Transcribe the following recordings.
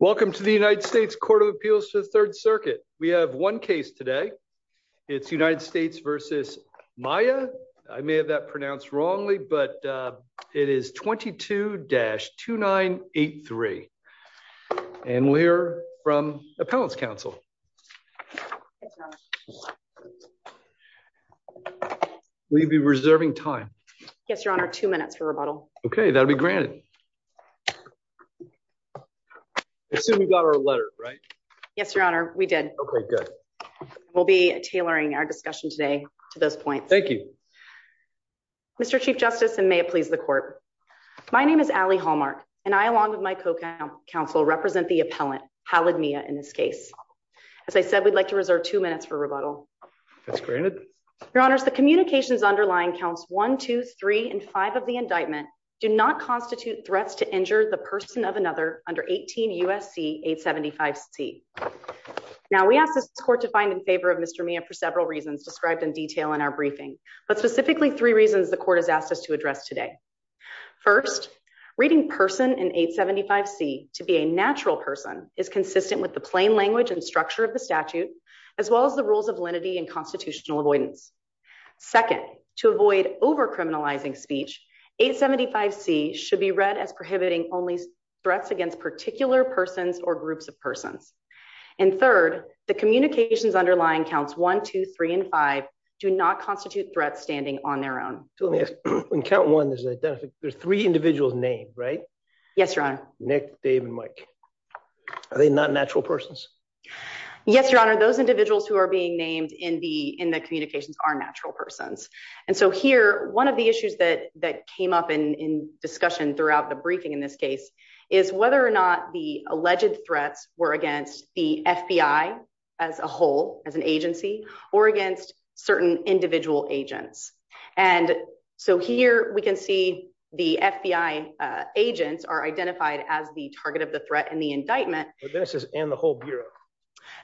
Welcome to the United States Court of Appeals to the Third Circuit. We have one case today. It's United States v. Miah. I may have that pronounced wrongly, but it is 22-2983. And we'll hear from Appellants' Counsel. Will you be reserving time? Yes, Your Honor. Two minutes for rebuttal. Okay, that'll be granted. I assume you got our letter, right? Yes, Your Honor. We did. Okay, good. We'll be tailoring our discussion today to those points. Thank you. Mr. Chief Justice, and may it please the Court. My name is Allie Hallmark, and I, along with my co-counsel, represent the Appellant, Hallid Miah, in this case. As I said, we'd like to reserve two minutes for rebuttal. That's granted. Your Honors, the communications underlying counts 1, 2, 3, and 5 of the indictment do not constitute threats to injure the person of another under 18 U.S.C. 875C. Now, we asked this Court to find in favor of Mr. Miah for several reasons described in detail in our briefing, but specifically three reasons the Court has asked us to address today. First, reading person in 875C to be a natural person is consistent with the plain language and structure of the statute, as well as the rules of lenity and constitutional avoidance. Second, to avoid over-criminalizing speech, 875C should be read as prohibiting only threats against particular persons or groups of persons. And third, the communications underlying counts 1, 2, 3, and 5 do not constitute threats standing on their own. So let me ask, in count one, there's three individuals named, right? Yes, Your Honor. Nick, Dave, and Mike. Are they not natural persons? Yes, Your Honor. Those individuals who are being named in the communications are natural persons. And so here, one of the issues that came up in discussion throughout the briefing in this case is whether or not the alleged threats were against the FBI as a whole, as an agency, or against certain individual agents. And so here we can see the FBI agents are identified as the bureau.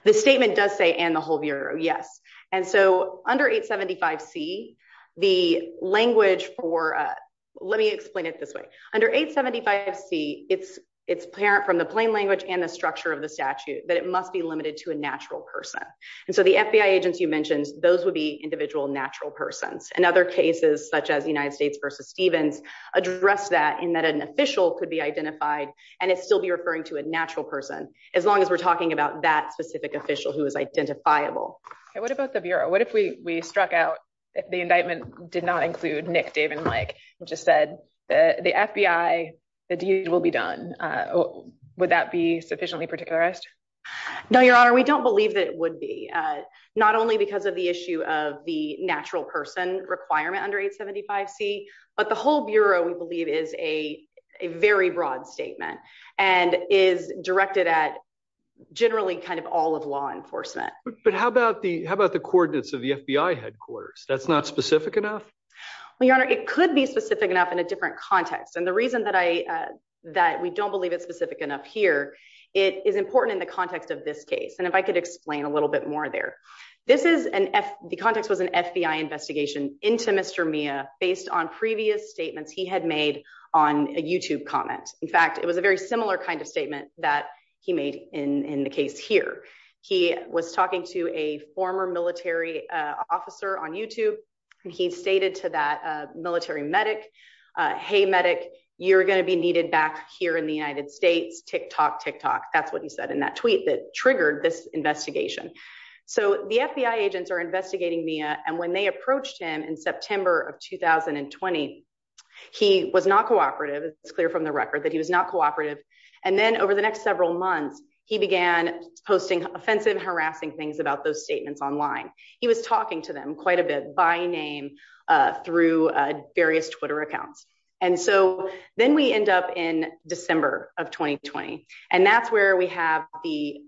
The statement does say, and the whole bureau, yes. And so under 875C, the language for, let me explain it this way. Under 875C, it's apparent from the plain language and the structure of the statute that it must be limited to a natural person. And so the FBI agents you mentioned, those would be individual natural persons. And other cases, such as United States versus Stevens, address that in that an official could be identified and it still be referring to a natural person. As long as we're talking about that specific official who is identifiable. And what about the bureau? What if we struck out, if the indictment did not include Nick, Dave, and Mike, and just said the FBI, the deed will be done. Would that be sufficiently particularized? No, Your Honor. We don't believe that it would be. Not only because of the issue of the natural person requirement under 875C, but the whole bureau we believe is a very broad statement and is directed at generally kind of all of law enforcement. But how about the coordinates of the FBI headquarters? That's not specific enough? Well, Your Honor, it could be specific enough in a different context. And the reason that we don't believe it's specific enough here, it is important in the context of this case. And if I could explain a little bit more there. The context was an FBI investigation into Mr. Mia based on previous statements he had made on a YouTube comment. In fact, it was a very similar kind of statement that he made in the case here. He was talking to a former military officer on YouTube. He stated to that military medic, Hey, medic, you're going to be needed back here in the United States. Tick tock, tick tock. That's what he said in that tweet that triggered this investigation. So the FBI agents are clear from the record that he was not cooperative. And then over the next several months, he began posting offensive, harassing things about those statements online. He was talking to them quite a bit by name through various Twitter accounts. And so then we end up in December of 2020. And that's where we have the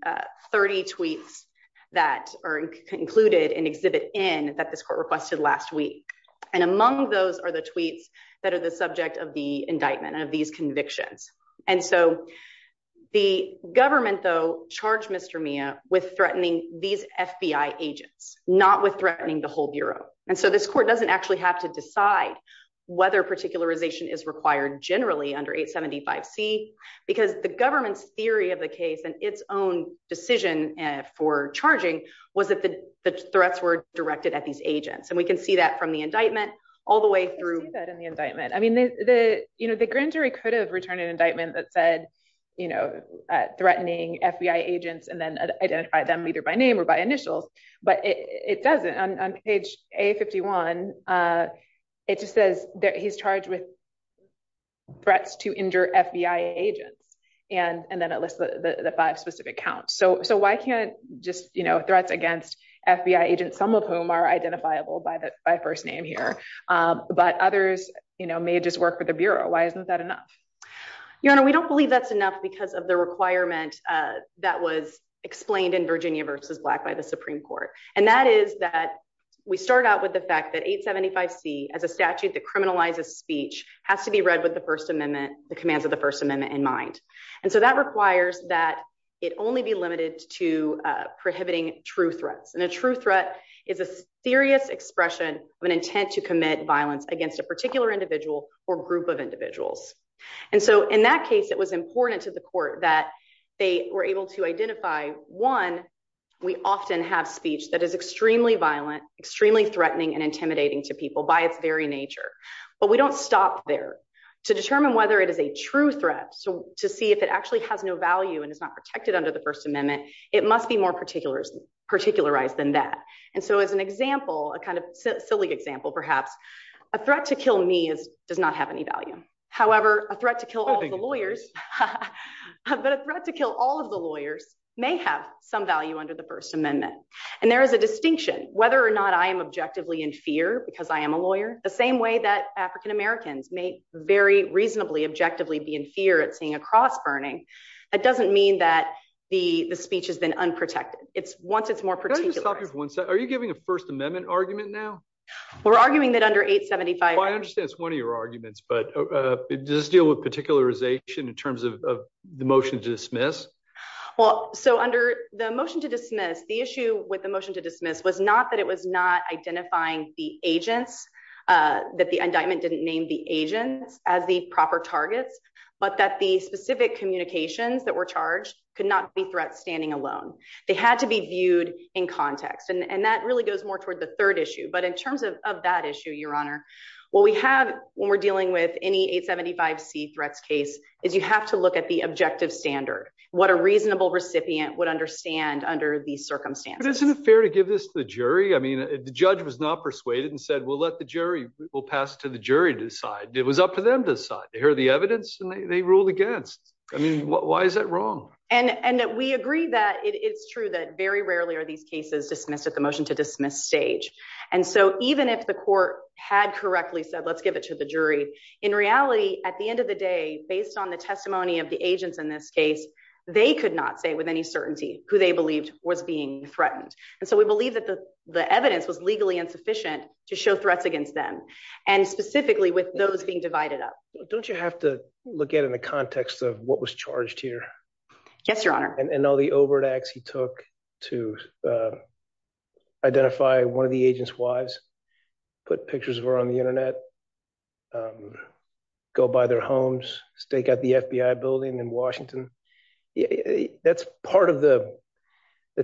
30 tweets that are included in exhibit in that court requested last week. And among those are the tweets that are the subject of the indictment of these convictions. And so the government though charged Mr. Mia with threatening these FBI agents, not with threatening the whole bureau. And so this court doesn't actually have to decide whether particularization is required generally under 875 C because the government's theory of the case and its own decision for charging was that the threats were directed at these agents. And we can see that from the indictment all the way through that in the indictment. I mean, you know, the grand jury could have returned an indictment that said, you know, threatening FBI agents and then identify them either by name or by initials, but it doesn't on page a 51. Uh, it just says that he's charged with threats to injure FBI agents and then at least the five specific counts. So, so why can't just, you know, threats against FBI agents, some of whom are identifiable by the, by first name here. Um, but others, you know, may just work with the bureau. Why isn't that enough? Your honor, we don't believe that's enough because of the requirement, uh, that was explained in Virginia versus black by the Supreme court. And that is that we start out with the fact that eight 75 C as a statute that criminalizes speech has to be read with the first amendment, the commands of the first amendment in mind. And so that requires that it only be limited to prohibiting true threats. And a true threat is a serious expression of an intent to commit violence against a particular individual or group of individuals. And so in that case, it was important to the court that they were able to identify one. We extremely threatening and intimidating to people by its very nature, but we don't stop there to determine whether it is a true threat. So to see if it actually has no value and it's not protected under the first amendment, it must be more particular, particularized than that. And so as an example, a kind of silly example, perhaps a threat to kill me as does not have any value. However, a threat to kill all the lawyers, but a threat to kill all of the lawyers may have some value under the first amendment. And there is a distinction whether or not I am objectively in fear because I am a lawyer, the same way that African-Americans may very reasonably, objectively be in fear at seeing a cross burning. That doesn't mean that the speech has been unprotected. It's once it's more particular. Are you giving a first amendment argument now? We're arguing that under eight 75, I understand it's one of your arguments, but does this deal with particularization in terms of the motion to dismiss? Well, so under the motion to dismiss, the issue with the motion to dismiss was not that it was not identifying the agents, that the indictment didn't name the agents as the proper targets, but that the specific communications that were charged could not be threat standing alone. They had to be viewed in context. And that really goes more toward the third issue. But in terms of 875 C threats case is you have to look at the objective standard, what a reasonable recipient would understand under these circumstances. Isn't it fair to give this to the jury? I mean, the judge was not persuaded and said, we'll let the jury, we'll pass it to the jury to decide. It was up to them to decide. They heard the evidence and they ruled against. I mean, why is that wrong? And we agree that it's true that very rarely are these cases dismissed at the motion to dismiss stage. And so even if the court had correctly said, let's give it to the jury, the reality at the end of the day, based on the testimony of the agents in this case, they could not say with any certainty who they believed was being threatened. And so we believe that the, the evidence was legally insufficient to show threats against them. And specifically with those being divided up, don't you have to look at it in the context of what was charged here? Yes, your honor. And all the overtax he took to identify one of the agent's wives, put pictures of her on the internet, go by their homes, stake out the FBI building in Washington. That's part of the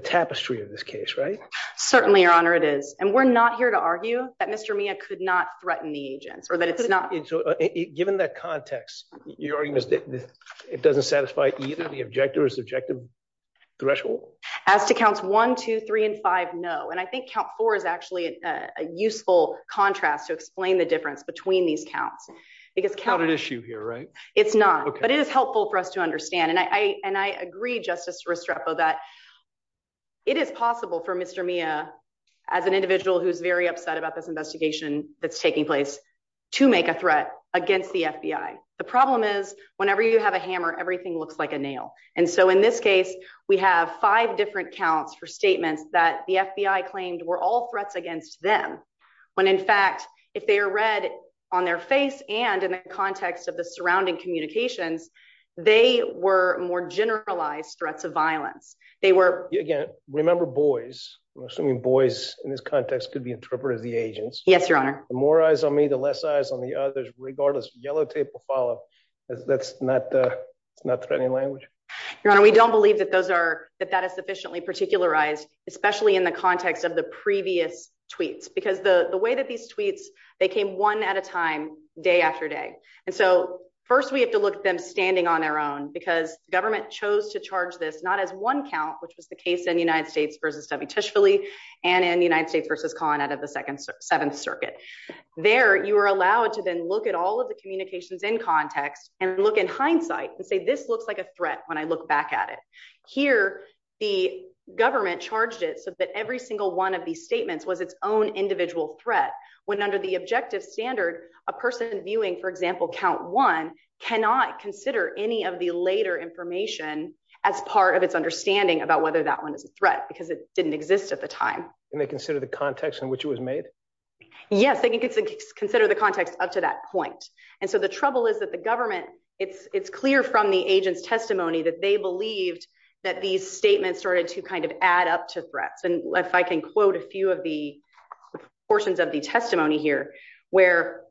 tapestry of this case, right? Certainly your honor it is. And we're not here to argue that Mr. Mia could not threaten the agents or that it's not. Given that context, your argument is that it doesn't satisfy either the objective or subjective threshold? As to counts one, two, three, and five. No. And I think count four is actually a useful contrast to explain the difference between these counts because count an issue here, right? It's not, but it is helpful for us to understand. And I, and I agree justice Restrepo that it is possible for Mr. Mia as an individual, who's very upset about this investigation, that's taking place to make a threat against the FBI. The problem is whenever you have a hammer, everything looks like a nail. And so in this case, we have five different counts for statements that the FBI claimed were all threats against them. When in fact, if they are read on their face and in the context of the surrounding communications, they were more generalized threats of violence. They were again, remember boys, I'm assuming boys in this context could be interpreted as the agents. Yes, your honor. The more eyes on me, the less eyes on the others, regardless of yellow tape will follow. That's not, uh, it's not threatening language. Your honor. We don't believe that those are, that that is sufficiently particularized, especially in the context of the previous tweets, because the way that these tweets, they came one at a time, day after day. And so first we have to look at them standing on their own because government chose to charge this not as one count, which was the case in the United States versus W. Tishley and in the United States versus con out of the second seventh circuit there, you are allowed to then look at all of the communications in context and look in hindsight and say, this looks like a threat. When I look back at it here, the government charged it so that every single one of these statements was its own individual threat. When under the objective standard, a person viewing, for example, count one, cannot consider any of the later information as part of its understanding about whether that one is a threat because it didn't exist at the time. And they consider the context in which it was made. Yes, they can consider the context up to that point. And so the trouble is that the government it's, it's clear from the agent's testimony that they believed that these statements started to kind of add up to threats. And if I can quote a few of the portions of the testimony here, where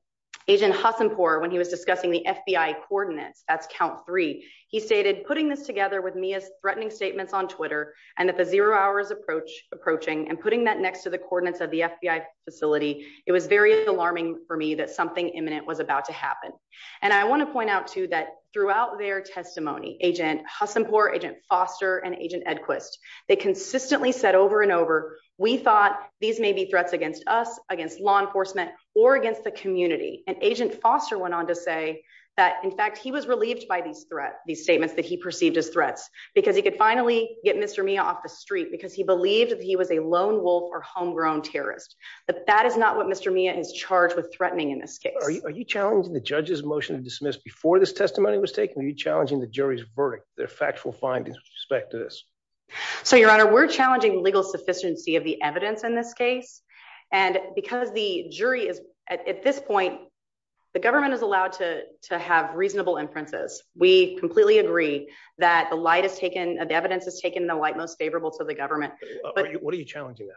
agent Hassan poor, when he was discussing the FBI coordinates, that's count three, he stated, putting this together with me as threatening statements on Twitter and that the hours approach approaching and putting that next to the coordinates of the FBI facility, it was very alarming for me that something imminent was about to happen. And I want to point out to that throughout their testimony, agent Hassan poor agent Foster and agent Edquist, they consistently said over and over, we thought these may be threats against us, against law enforcement, or against the community. And agent Foster went on to say that in fact, he was relieved by these threat, these statements that he perceived as threats, because he could finally get Mr. Mia off the street because he believed that he was a lone wolf or homegrown terrorist. But that is not what Mr. Mia is charged with threatening in this case. Are you challenging the judge's motion to dismiss before this testimony was taken? Are you challenging the jury's verdict, their factual findings with respect to this? So your honor, we're challenging legal sufficiency of the evidence in this case. And because the jury is at this point, the government is allowed to have reasonable inferences. We completely agree that the light is taken, the evidence is taken the light most favorable to the government. What are you challenging?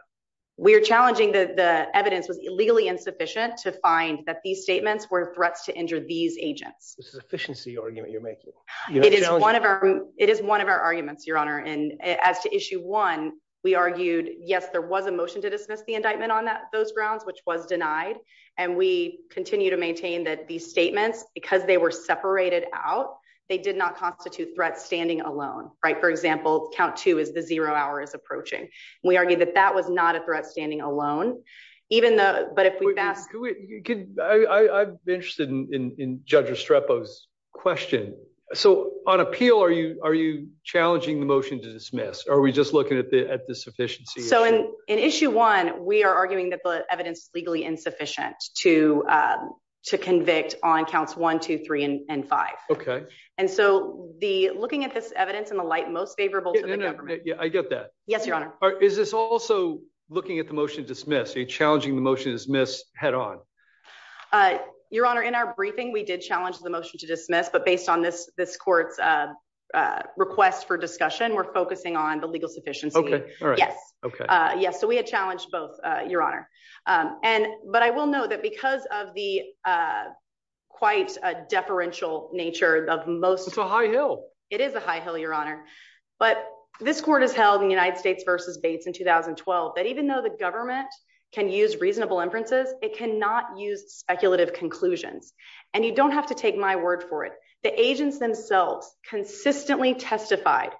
We're challenging that the evidence was illegally insufficient to find that these statements were threats to injure these agents. The sufficiency argument you're making. It is one of our, it is one of our arguments, your honor. And as to issue one, we argued, yes, there was a motion to dismiss the indictment on those grounds, which was denied. And we continue to maintain that these statements, because they were separated out, they did not constitute threat standing alone, right? For example, count two is the zero hour is approaching. And we argue that that was not a threat standing alone, even though, but if we've asked. I'm interested in, in, in judge Restrepo's question. So on appeal, are you, are you challenging the motion to dismiss, or are we just looking at the, at the sufficiency? So in, in issue one, we are arguing that the and five. Okay. And so the looking at this evidence in the light, most favorable to the government. Yeah, I get that. Yes, your honor. Is this also looking at the motion to dismiss challenging the motion is miss head on your honor. In our briefing, we did challenge the motion to dismiss, but based on this, this court's request for discussion, we're focusing on the legal sufficiency. Yes. Okay. Yes. So we had challenged both your honor. And, but I will know that because of the quite a deferential nature of most, it's a high Hill. It is a high Hill, your honor, but this court has held in the United States versus Bates in 2012, that even though the government can use reasonable inferences, it cannot use speculative conclusions. And you don't have to take my word for it. The agents themselves consistently testified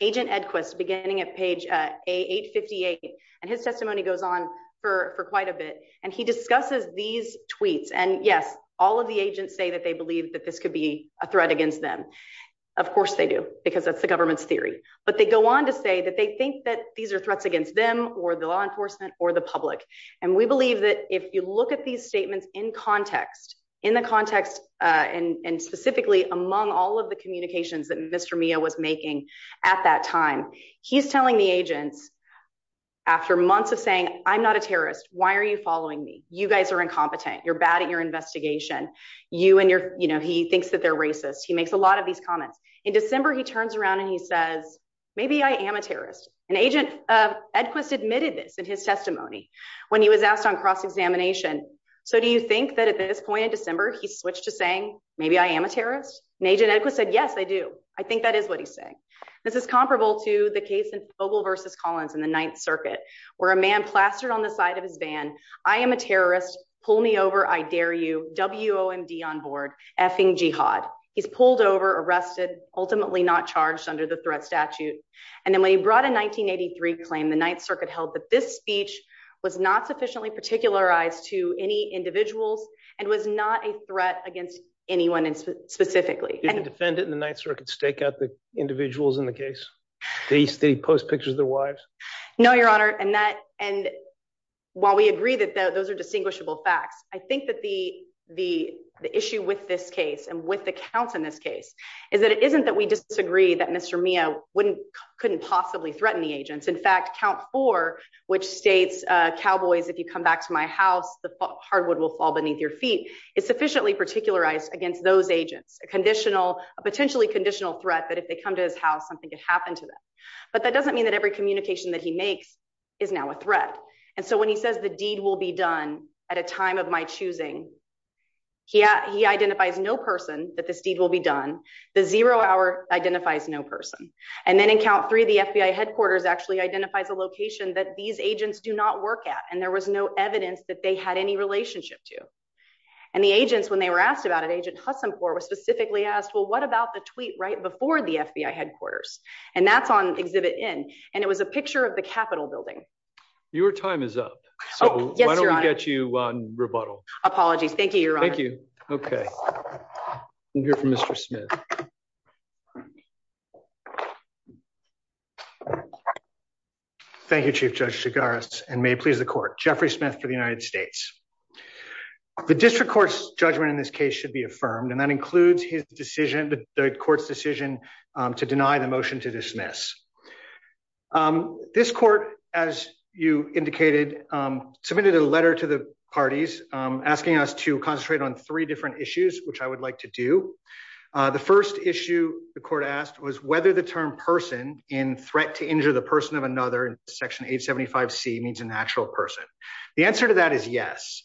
agent Edquist beginning at page eight 58. And his testimony goes on for quite a bit. And he discusses these tweets and yes, all of the agents say that they believe that this could be a threat against them. Of course they do because that's the government's theory, but they go on to say that they think that these are threats against them or the law enforcement or the public. And we believe that if you look at these statements in context, in the context, and specifically among all of the communications that Mr. Mia was making at that time, he's telling the agents after months of saying, I'm not a terrorist. Why are you following me? You guys are incompetent. You're bad at your investigation. You and your, you know, he thinks that they're racist. He makes a lot of these comments in December. He turns around and he says, maybe I am a terrorist and agent of Edquist admitted this in his testimony when he was asked on cross-examination. So do you think that at this point in December, he switched to saying, maybe I am a terrorist and agent Edquist said, yes, I do. I think that is what he's saying. This is comparable to the case in Fogle versus Collins in the ninth circuit where a man plastered on the side of his van. I am a terrorist. Pull me over. I dare you WOMD on board effing Jihad. He's pulled over arrested, ultimately not charged under the threat statute. And then when he brought a 1983 claim, the ninth circuit held that this speech was not sufficiently particularized to any individuals and was not a threat against anyone specifically. Defendant in the ninth circuit stake out the individuals in the case. They post pictures of their wives. No, your honor. And that, and while we agree that those are distinguishable facts, I think that the, the, the issue with this case and with the counts in this case is that it isn't that we disagree that Mr. Mia wouldn't couldn't possibly threaten the agents. In fact, count four, which States, uh, Cowboys, if you come back to my house, the hardwood will fall beneath your feet. It's sufficiently particularized against those agents, a conditional, a potentially conditional threat that if they come to his house, something could happen to them. But that doesn't mean that every communication that he makes is now a threat. And so when he says the deed will be done at a time of my choosing, he, he identifies no person that this deed will be done. The zero hour identifies no person. And then in count three, the FBI headquarters actually identifies a location that these agents do not work at. And there was no evidence that they had any relationship to. And the agents, when they were asked about it, agent Husson poor was specifically asked, well, what about the tweet right before the FBI headquarters? And that's on exhibit in, and it was a picture of the Capitol building. Your time is up. So why don't we get you on rebuttal? Apologies. Thank you. You're on. Thank you. Okay. I'm here for Mr. Smith. Thank you, chief judge cigars and may please the court. Jeffrey Smith for the United States. The district court's judgment in this case should be affirmed. And that includes his decision, the court's decision to deny the motion to dismiss. This court, as you indicated, submitted a letter to the parties asking us to concentrate on three different issues, which I would like to do. The first issue the court asked was whether the term person in threat to injure the person of another section eight 75 C means a natural person. The answer to that is yes.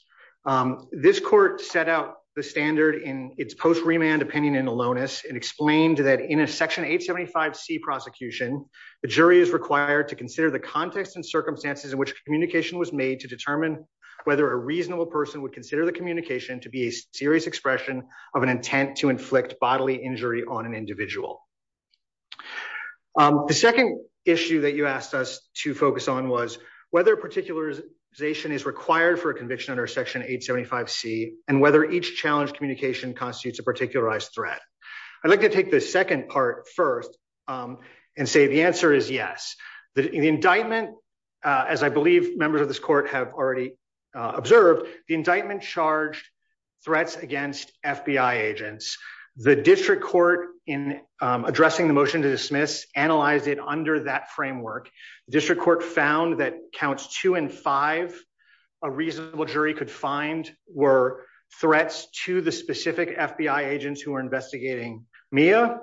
This court set out the standard in its post remand opinion in aloneness and explained that in a section eight 75 C prosecution, the jury is required to consider the context and circumstances in which communication was made to determine whether a reasonable person would consider the communication to be a serious expression of an intent to inflict bodily injury on an individual. The second issue that you asked us to focus on was whether particularization is required for a conviction under section eight 75 C, and whether each challenge communication constitutes a particularized threat. I'd like to take the second part first and say the answer is yes. The indictment, as I believe members of this court have already observed the indictment charged threats against FBI agents, the district court in addressing the motion to dismiss analyzed it under that framework. The district court found that counts two and five, a reasonable jury could find were threats to the specific FBI agents who are investigating Mia.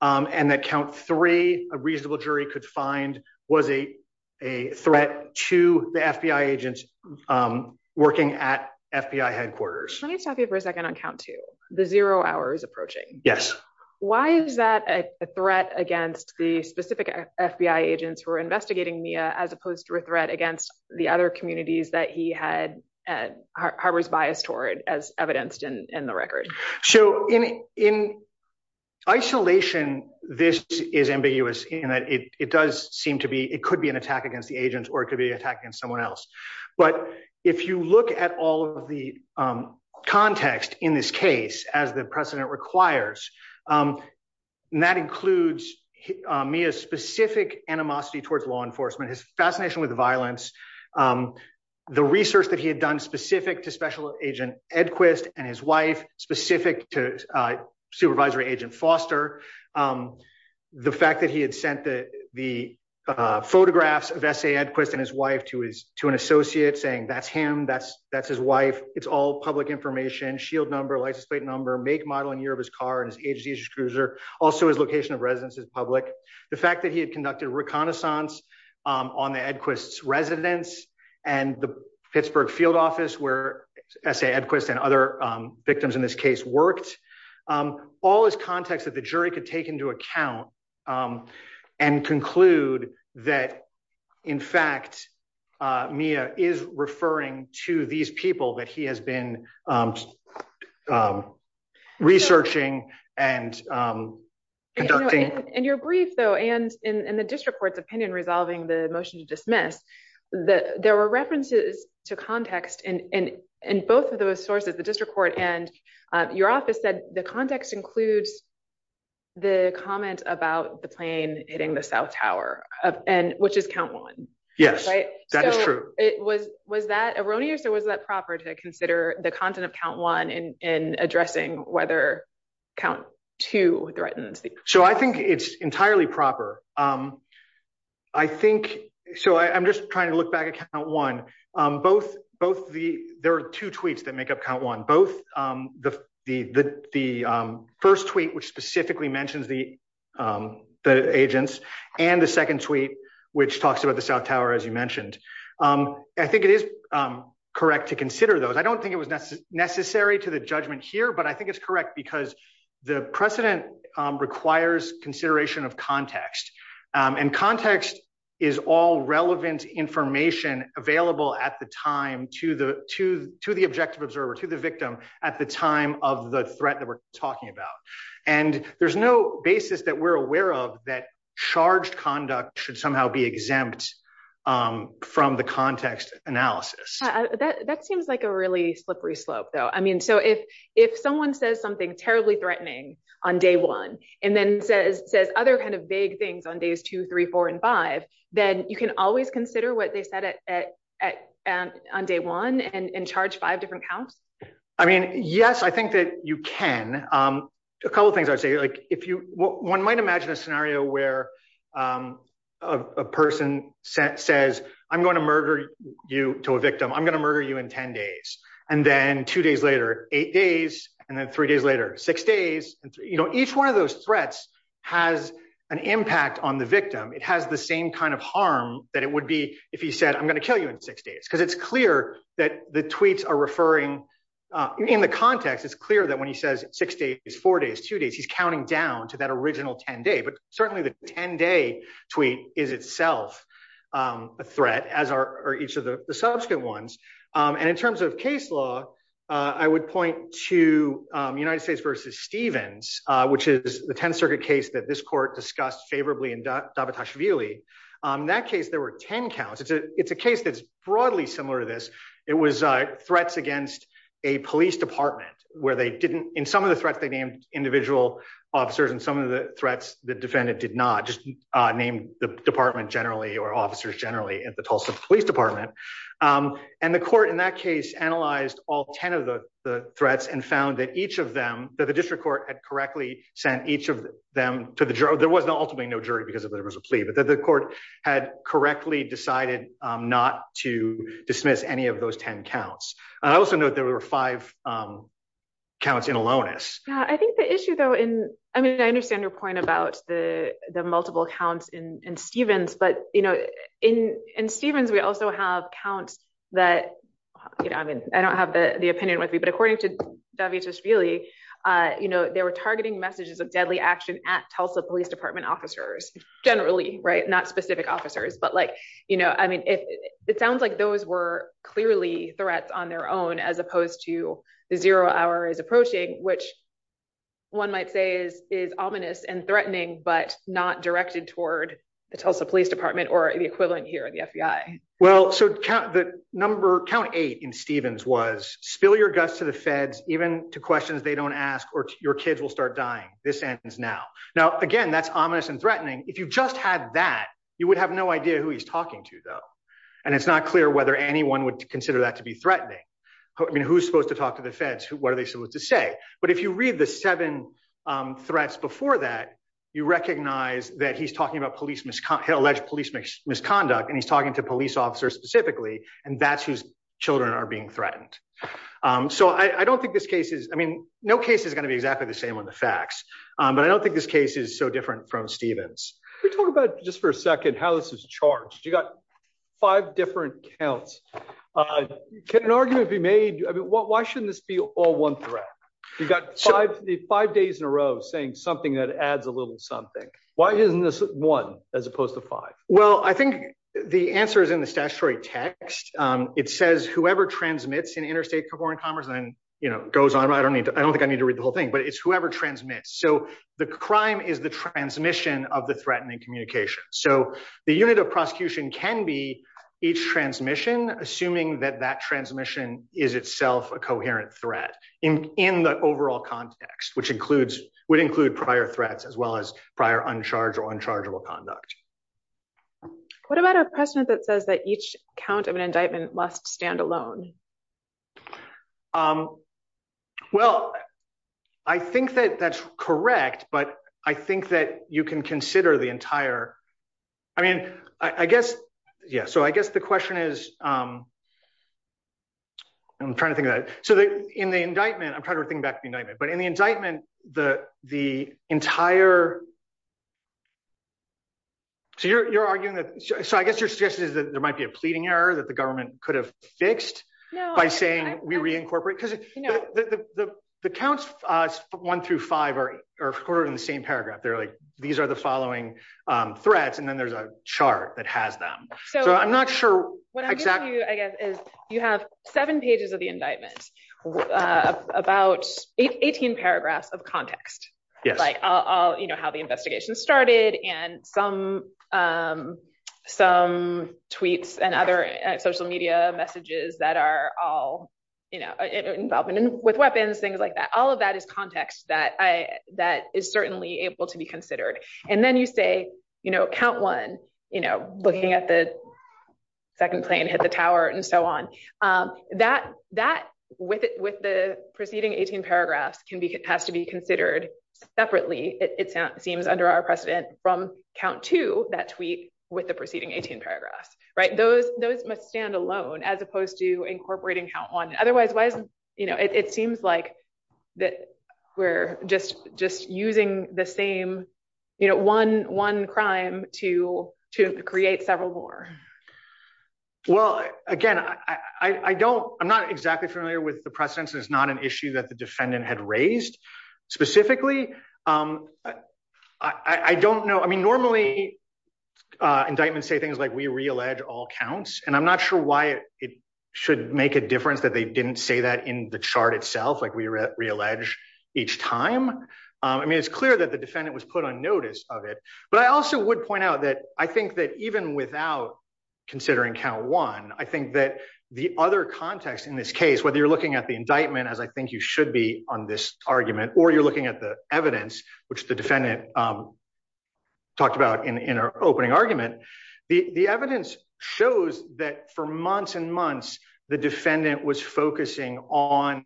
And that count three, a reasonable jury could find was a, a threat to the FBI agents working at FBI headquarters. Let me stop you for a second on count to the zero hours approaching. Yes. Why is that a threat against the specific FBI agents who are investigating Mia as opposed to a threat against the other communities that he had at harbors bias toward as evidenced in the record? So in, in isolation, this is ambiguous in that it, it does seem to be, it could be an attack against the agents or it could be attacking someone else. But if you look at all of the context in this case, as the precedent requires and that includes me as specific animosity towards law enforcement, his fascination with violence, the research that he had done specific to special agent Edquist and his wife specific to supervisory agent Foster. The fact that he had sent the, the photographs of essay Edquist and his wife to his, to an associate saying that's him, that's, that's his wife. It's all public information, shield number, license plate number, make, model, and year of his car and his age, he's a cruiser. Also his location of residence is public. The fact that he had conducted reconnaissance on the Edquist's residence and the Pittsburgh field office where essay Edquist and other victims in this case worked all is context that the jury could take into account and conclude that in fact Mia is referring to these people that he has been researching and conducting. And your brief though, and in the district court's opinion, resolving the motion to dismiss that there were references to context in, in, in both of those sources, the district court and your office said the context includes the comment about the plane hitting the south tower. And which is count one, right? So it was, was that erroneous or was that proper to consider the content of count one in, in addressing whether count two threatened. So I think it's entirely proper. I think, so I, I'm just trying to look back at count one both, both the, there are two tweets that make up count one, both the, the, the, the first tweet, which specifically mentions the, the agents and the second tweet, which talks about the south tower, as you mentioned. I think it is correct to consider those. I don't think it was necessary to the judgment here, but I think it's correct because the precedent requires consideration of context and context is all relevant information available at the time to the, to, to the objective observer, to the victim at the time of the threat that we're talking about. And there's no basis that we're aware of that charged conduct should somehow be exempt from the context analysis. That seems like a really slippery slope though. I mean, so if, if someone says something terribly threatening on day one, and then says, says other kinds of vague things on days, two, three, four, and five, then you can always consider what they said at, at, at, at on day one and charge five different counts. I mean, yes, I think that you can. A couple of things I would say, like if you, one might imagine a scenario where a person says, I'm going to murder you to a victim. I'm going to murder you in 10 days. And then two days later, eight days, and then three days later, six days, and you know, each one of those threats has an impact on the victim. It has the same kind of harm that it would be if he said, I'm going to kill you in six days, because it's clear that the tweets are referring in the context. It's clear that when he says six days, four days, two days, he's counting down to that original 10 day, but certainly the 10 day tweet is itself a threat as are each of the subsequent ones. And in terms of case law, I would point to United States versus Stevens, which is the 10th circuit case that this court discussed favorably in that case, there were 10 counts. It's a, it's a case that's broadly similar to this. It was threats against a police department where they didn't in some of the threats they named individual officers. And some of the threats, the defendant did not just named the department generally, or officers generally at the Tulsa police department. And the court in that case, analyzed all 10 of the threats and found that each of them that the district court had correctly sent each of them to the jury, there was ultimately no jury because there was a plea, but that the court had correctly decided not to dismiss any of those 10 counts. And I also know that there were five counts in aloneness. Yeah. I think the issue though, in, I mean, I understand your point about the, the multiple counts in Stevens, but you know, in, in Stevens, we also have counts that, you know, I mean, I don't have the opinion with me, but according to Davidovsky, you know, they were targeting messages of deadly action at Tulsa police department officers, generally, right. Not specific officers, but like, you know, I mean, if it sounds like those were clearly threats on their own, as opposed to the zero hour is approaching, which one might say is, is ominous and threatening, but not directed toward the Tulsa police department or the equivalent here at the FBI. Well, so the number count eight in Stevens was spill your guts to the they don't ask or your kids will start dying. This ends now. Now, again, that's ominous and threatening. If you just had that, you would have no idea who he's talking to though. And it's not clear whether anyone would consider that to be threatening. I mean, who's supposed to talk to the feds? What are they supposed to say? But if you read the seven threats before that, you recognize that he's talking about police misconduct, alleged police misconduct, and he's talking to police officers specifically, and that's whose children are being threatened. So I don't think this case is, I mean, no case is going to be exactly the same on the facts, but I don't think this case is so different from Stevens. We talked about just for a second, how this is charged. You got five different counts. Can an argument be made? I mean, why shouldn't this be all one threat? You got five, the five days in a row saying something that adds a little something. Why isn't this one as opposed to five? Well, I think the answer is in the statutory text. It says whoever transmits in interstate foreign commerce and then, you know, goes on. I don't need to, I don't think I need to read the whole thing, but it's whoever transmits. So the crime is the transmission of the threatening communication. So the unit of prosecution can be each transmission, assuming that that transmission is itself a coherent threat in the overall context, which includes, would include prior threats as well as prior uncharged or unchargeable conduct. What about a precedent that says that each count of an indictment must stand alone? Well, I think that that's correct, but I think that you can consider the entire, I mean, I guess, yeah. So I guess the question is, I'm trying to think of that. So in the indictment, I'm trying to think back to the indictment, but in the indictment, the entire So you're, you're arguing that, so I guess you're suggesting that there might be a pleading error that the government could have fixed by saying we reincorporate, because the counts one through five are recorded in the same paragraph. They're like, these are the following threats. And then there's a chart that has them. So I'm not sure. What I'm giving you, I guess, is you have seven pages of the indictment, about 18 paragraphs of context, like all, you know, how the investigation started and some, some tweets and other social media messages that are all, you know, involvement with weapons, things like that. All of that is context that I, that is certainly able to be considered. And then you say, you know, count one, you know, looking at the second plane hit the tower and so on. That, that with it, with the preceding 18 paragraphs can be, has to be considered separately. It sounds, seems under our precedent from count two, that tweet with the preceding 18 paragraphs, right? Those, those must stand alone as opposed to incorporating count one. Otherwise, why isn't, you know, it seems like that we're just, just using the same, you know, one, one crime to, to create several more. Well, again, I, I don't, I'm not exactly familiar with the precedence. It's not an issue that the defendant had raised specifically. I don't know. I mean, normally indictments say things like we reallege all counts, and I'm not sure why it should make a difference that they didn't say that in the chart itself, like we reallege each time. I mean, it's clear that the defendant was put on notice of it, but I also would point out that I think that even without considering count one, I think that the other context in this case, whether you're looking at the indictment, as I think you should be on this argument, or you're looking at the evidence, which the defendant talked about in, in our opening argument, the, the evidence shows that for months and months, the defendant was focusing on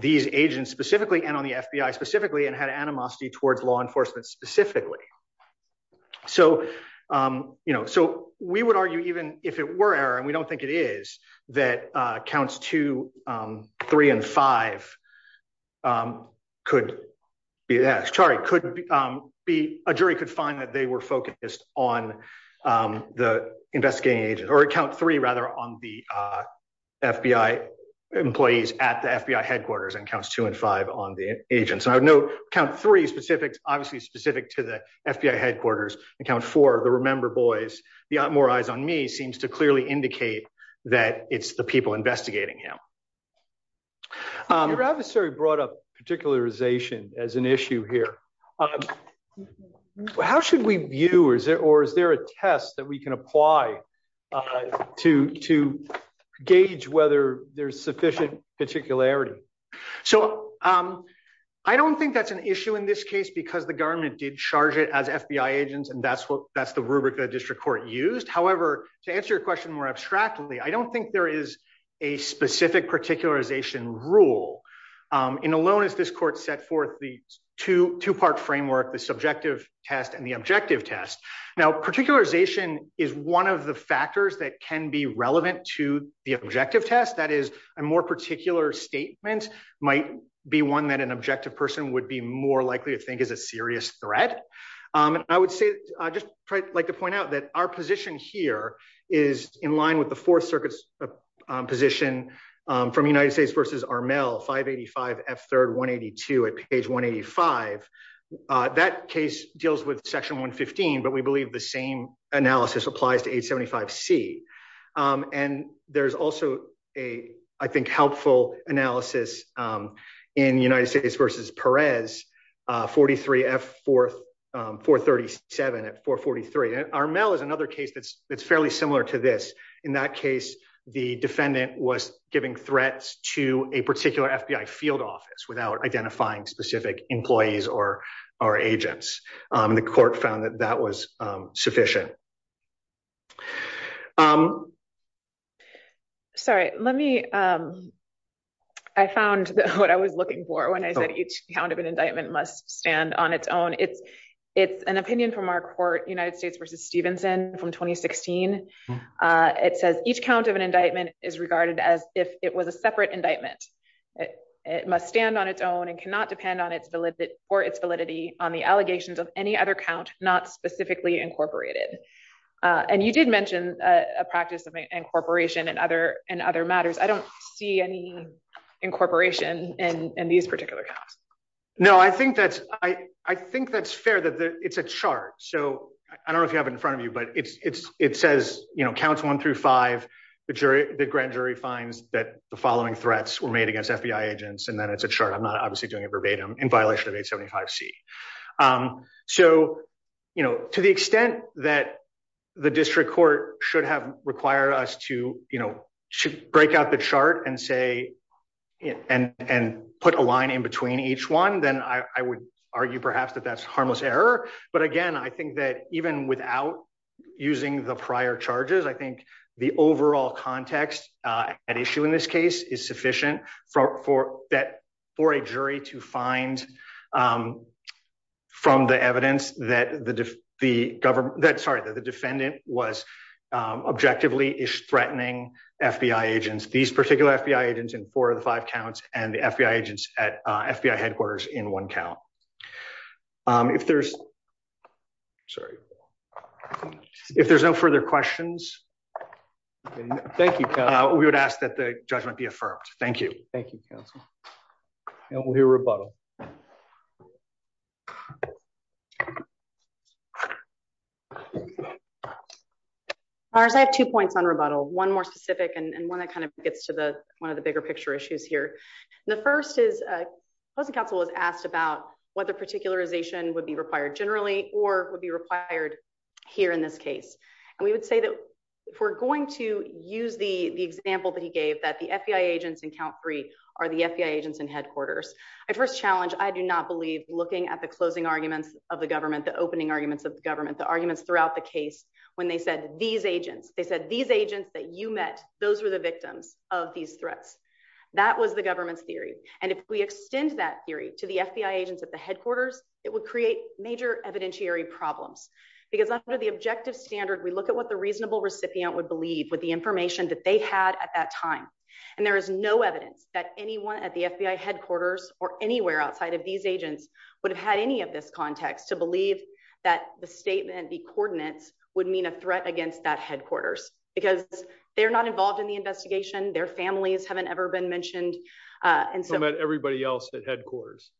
these agents specifically and on the FBI specifically, and had animosity towards law enforcement specifically. So, you know, so we would argue even if it were error, and we don't think it is, that counts two, three, and five could be, sorry, could be, a jury could find that they were focused on the investigating agent, or count three, rather, on the FBI employees at the FBI headquarters, and counts two and five on the agents. And I would note count three specific, obviously specific to the FBI headquarters, and count four, the remember boys, the more eyes on me seems to clearly indicate that it's the people investigating him. Your adversary brought up particularization as an issue here. How should we view, or is there a test that we can apply to, to gauge whether there's sufficient particularity? So, I don't think that's an issue in this case, because the that's what, that's the rubric the district court used. However, to answer your question more abstractly, I don't think there is a specific particularization rule. In a loan, as this court set forth the two, two-part framework, the subjective test, and the objective test. Now, particularization is one of the factors that can be relevant to the objective test, that is, a more particular statement might be one that an objective person would be more likely to think is a serious threat. And I would say, I'd just like to point out that our position here is in line with the Fourth Circuit's position from United States versus Armel, 585 F3rd 182 at page 185. That case deals with section 115, but we believe the same analysis applies to 875 C. And there's also a, I think, helpful analysis in United States versus Perez, 43 F4, 437 at 443. And Armel is another case that's, that's fairly similar to this. In that case, the defendant was giving threats to a particular FBI field office without identifying specific employees or our Sorry, let me, I found what I was looking for when I said each count of an indictment must stand on its own. It's, it's an opinion from our court, United States versus Stevenson from 2016. It says each count of an indictment is regarded as if it was a separate indictment. It must stand on its own and cannot depend on its validity or its validity on the allegations of any other count, not specifically incorporated. And you did mention a practice of incorporation and other and other matters. I don't see any incorporation in these particular counts. No, I think that's, I think that's fair that it's a chart. So I don't know if you have it in front of you, but it's, it's, it says, you know, counts one through five, the jury, the grand jury finds that the following threats were made against FBI agents. And then it's a chart. I'm not You know, to the extent that the district court should have required us to, you know, break out the chart and say, and, and put a line in between each one, then I would argue perhaps that that's harmless error. But again, I think that even without using the prior charges, I think the overall context at issue in this case is sufficient for, for that, for a jury to find from the evidence that the, the government that, sorry, that the defendant was objectively is threatening FBI agents, these particular FBI agents in four of the five counts and the FBI agents at FBI headquarters in one count. If there's sorry, if there's no further questions, thank you. We would ask that the judgment be affirmed. Thank you. Thank you. And we'll hear rebuttal. Mars, I have two points on rebuttal, one more specific and one that kind of gets to the, one of the bigger picture issues here. And the first is a council was asked about whether particularization would be required generally, or would be required here in this case. And we would say that if we're going to use the, the example that he gave that the FBI agents in count three are the FBI agents in headquarters. I first challenged, I do not believe looking at the closing arguments of the government, the opening arguments of the government, the arguments throughout the case, when they said these agents, they said these agents that you met, those were the victims of these threats. That was the government's theory. And if we extend that theory to the FBI agents at the headquarters, it would create major evidentiary problems because under the objective standard, we look at what the reasonable recipient would believe with the information that they had at that time. And there is no evidence that anyone at the FBI headquarters or anywhere outside of these agents would have had any of this context to believe that the statement, the coordinates would mean a threat against that headquarters because they're not involved in the investigation. Their families haven't ever been mentioned. And so everybody else at headquarters,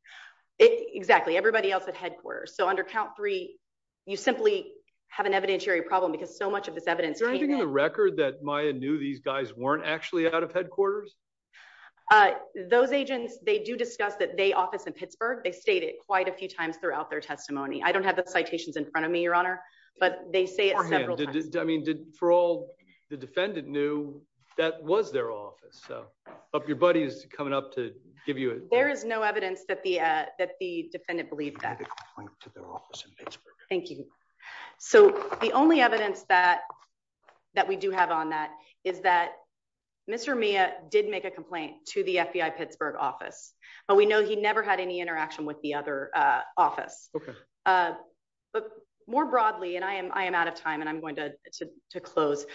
exactly everybody else at headquarters. So under count three, you simply have an evidentiary problem because so much of this evidence. Is there anything in the record that Maya knew these guys weren't actually out of headquarters? Uh, those agents, they do discuss that they office in Pittsburgh. They stated quite a few times throughout their testimony. I don't have the citations in front of me, your honor, but they say it several times. I mean, did for all the defendant knew that was their office. So your buddy is coming up to give you a, there is no evidence that the, uh, that the defendant believed that. Their office in Pittsburgh. Thank you. So the only evidence that, that we do have on that is that Mr. Mia did make a complaint to the FBI Pittsburgh office, but we know he never had any interaction with the other, uh, office. Uh, but more broadly, and I am, I am out of time and I'm going to, to, to close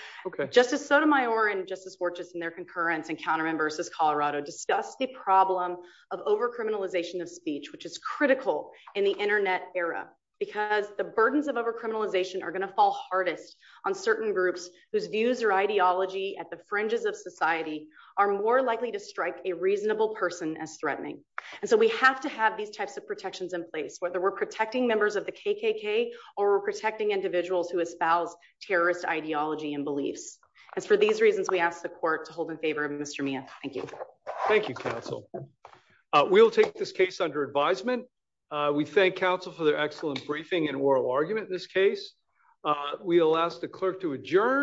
justice Sotomayor and justice for just in their concurrence and counter members as Colorado discussed the problem of over criminalization of speech, which is critical in the internet era, because the burdens of over criminalization are going to fall hardest on certain groups whose views or ideology at the fringes of society are more likely to strike a reasonable person as threatening. And so we have to have these types of protections in place, whether we're protecting members of the KKK or protecting individuals who espouse terrorist ideology and beliefs. As for these reasons, we ask the court to hold in favor of Mr. Mia. Thank you. We thank council for their excellent briefing and oral argument. In this case, we'll ask the clerk to adjourn.